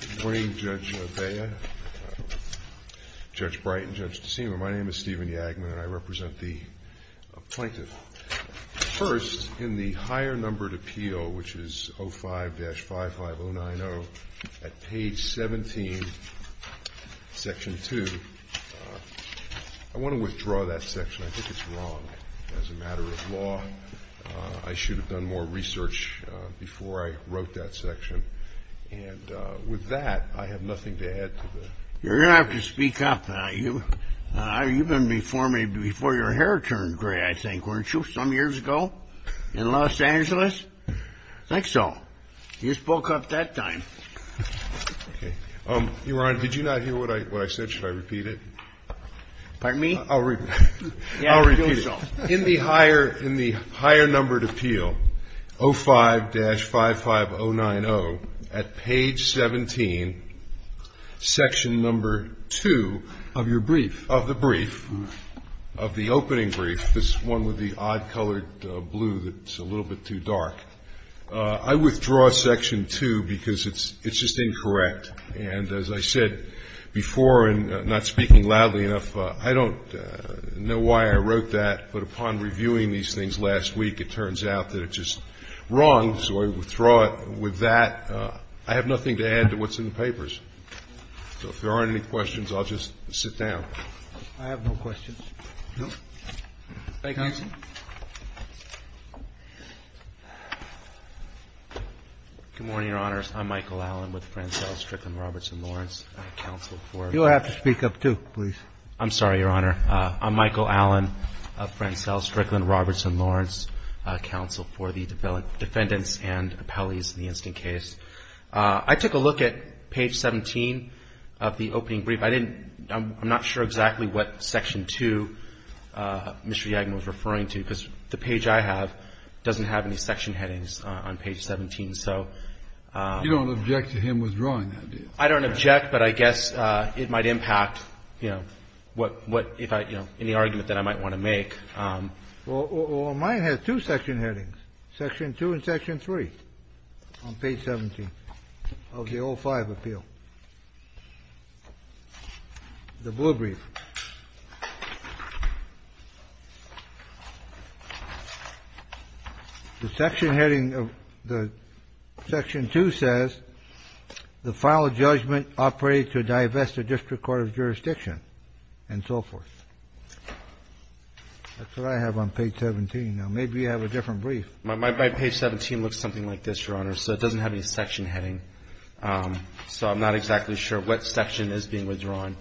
Good morning Judge Bea, Judge Bright and Judge DeSima. My name is Stephen Yagman and I represent the Plaintiff. First, in the Higher Numbered Appeal, which is 05-55090 at page 17, section 2, I want to withdraw that section. I think it's wrong as a matter of law. I should have done more research before I wrote that section. And with that, I have nothing to add to that. You're going to have to speak up now. You've been before me before your hair turned gray, I think, weren't you, some years ago in Los Angeles? I think so. You spoke up that time. Your Honor, did you not hear what I said? Should I repeat it? Pardon me? I'll repeat it. In the Higher Numbered Appeal, 05-55090, at page 17, section number 2 of your brief, of the brief, of the opening brief, this one with the odd-colored blue that's a little bit too dark, I withdraw section 2 because it's just incorrect. And as I said before, and not speaking loudly enough, I don't know why I wrote that, but upon reviewing these things last week, it turns out that it's just wrong, so I withdraw it. With that, I have nothing to add to what's in the papers. So if there aren't any questions, I'll just sit down. I have no questions. Thank you. Mr. Yagner. Good morning, Your Honor. I'm Michael Allen with Frenzel, Strickland, Roberts, and Lawrence counsel for the defendants and appellees in the instant case. I took a look at page 17 of the opening brief. I didn't – I'm not sure exactly what section 2 Mr. Yagner was referring to, because the page I have doesn't have any section headings on page 17. So – You don't object to him withdrawing that, do you? I don't object, but I guess it might impact, you know, what – if I, you know, any argument that I might want to make. Well, mine has two section headings, section 2 and section 3 on page 17 of the O5 appeal. The blue brief. The section heading of the section 2 says, the final judgment operated to divest the district court of jurisdiction and so forth. That's what I have on page 17. Now, maybe you have a different brief. My page 17 looks something like this, Your Honor, so it doesn't have any section heading. So I'm not exactly sure what section is being withdrawn.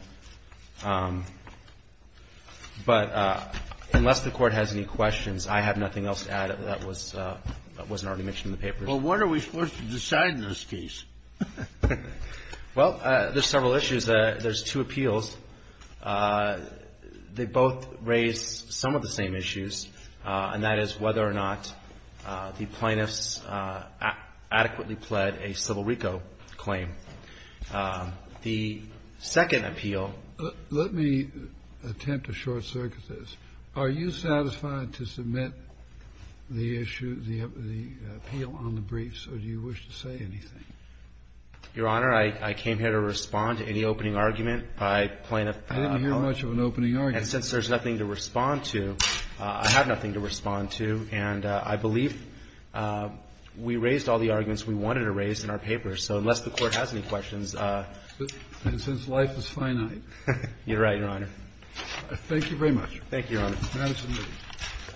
But unless the Court has any questions, I have nothing else to add that wasn't already mentioned in the papers. Well, what are we supposed to decide in this case? Well, there's several issues. There's two appeals. They both raise some of the same issues, and that is whether or not the plaintiffs adequately pled a Civil RICO claim. The second appeal – Let me attempt to short-circuit this. Are you satisfied to submit the issue, the appeal on the briefs, or do you wish to say anything? Your Honor, I came here to respond to any opening argument by plaintiff. I didn't hear much of an opening argument. And since there's nothing to respond to, I have nothing to respond to. And I believe we raised all the arguments we wanted to raise in our papers. So unless the Court has any questions – And since life is finite. You're right, Your Honor. Thank you very much. Thank you, Your Honor. Thank you.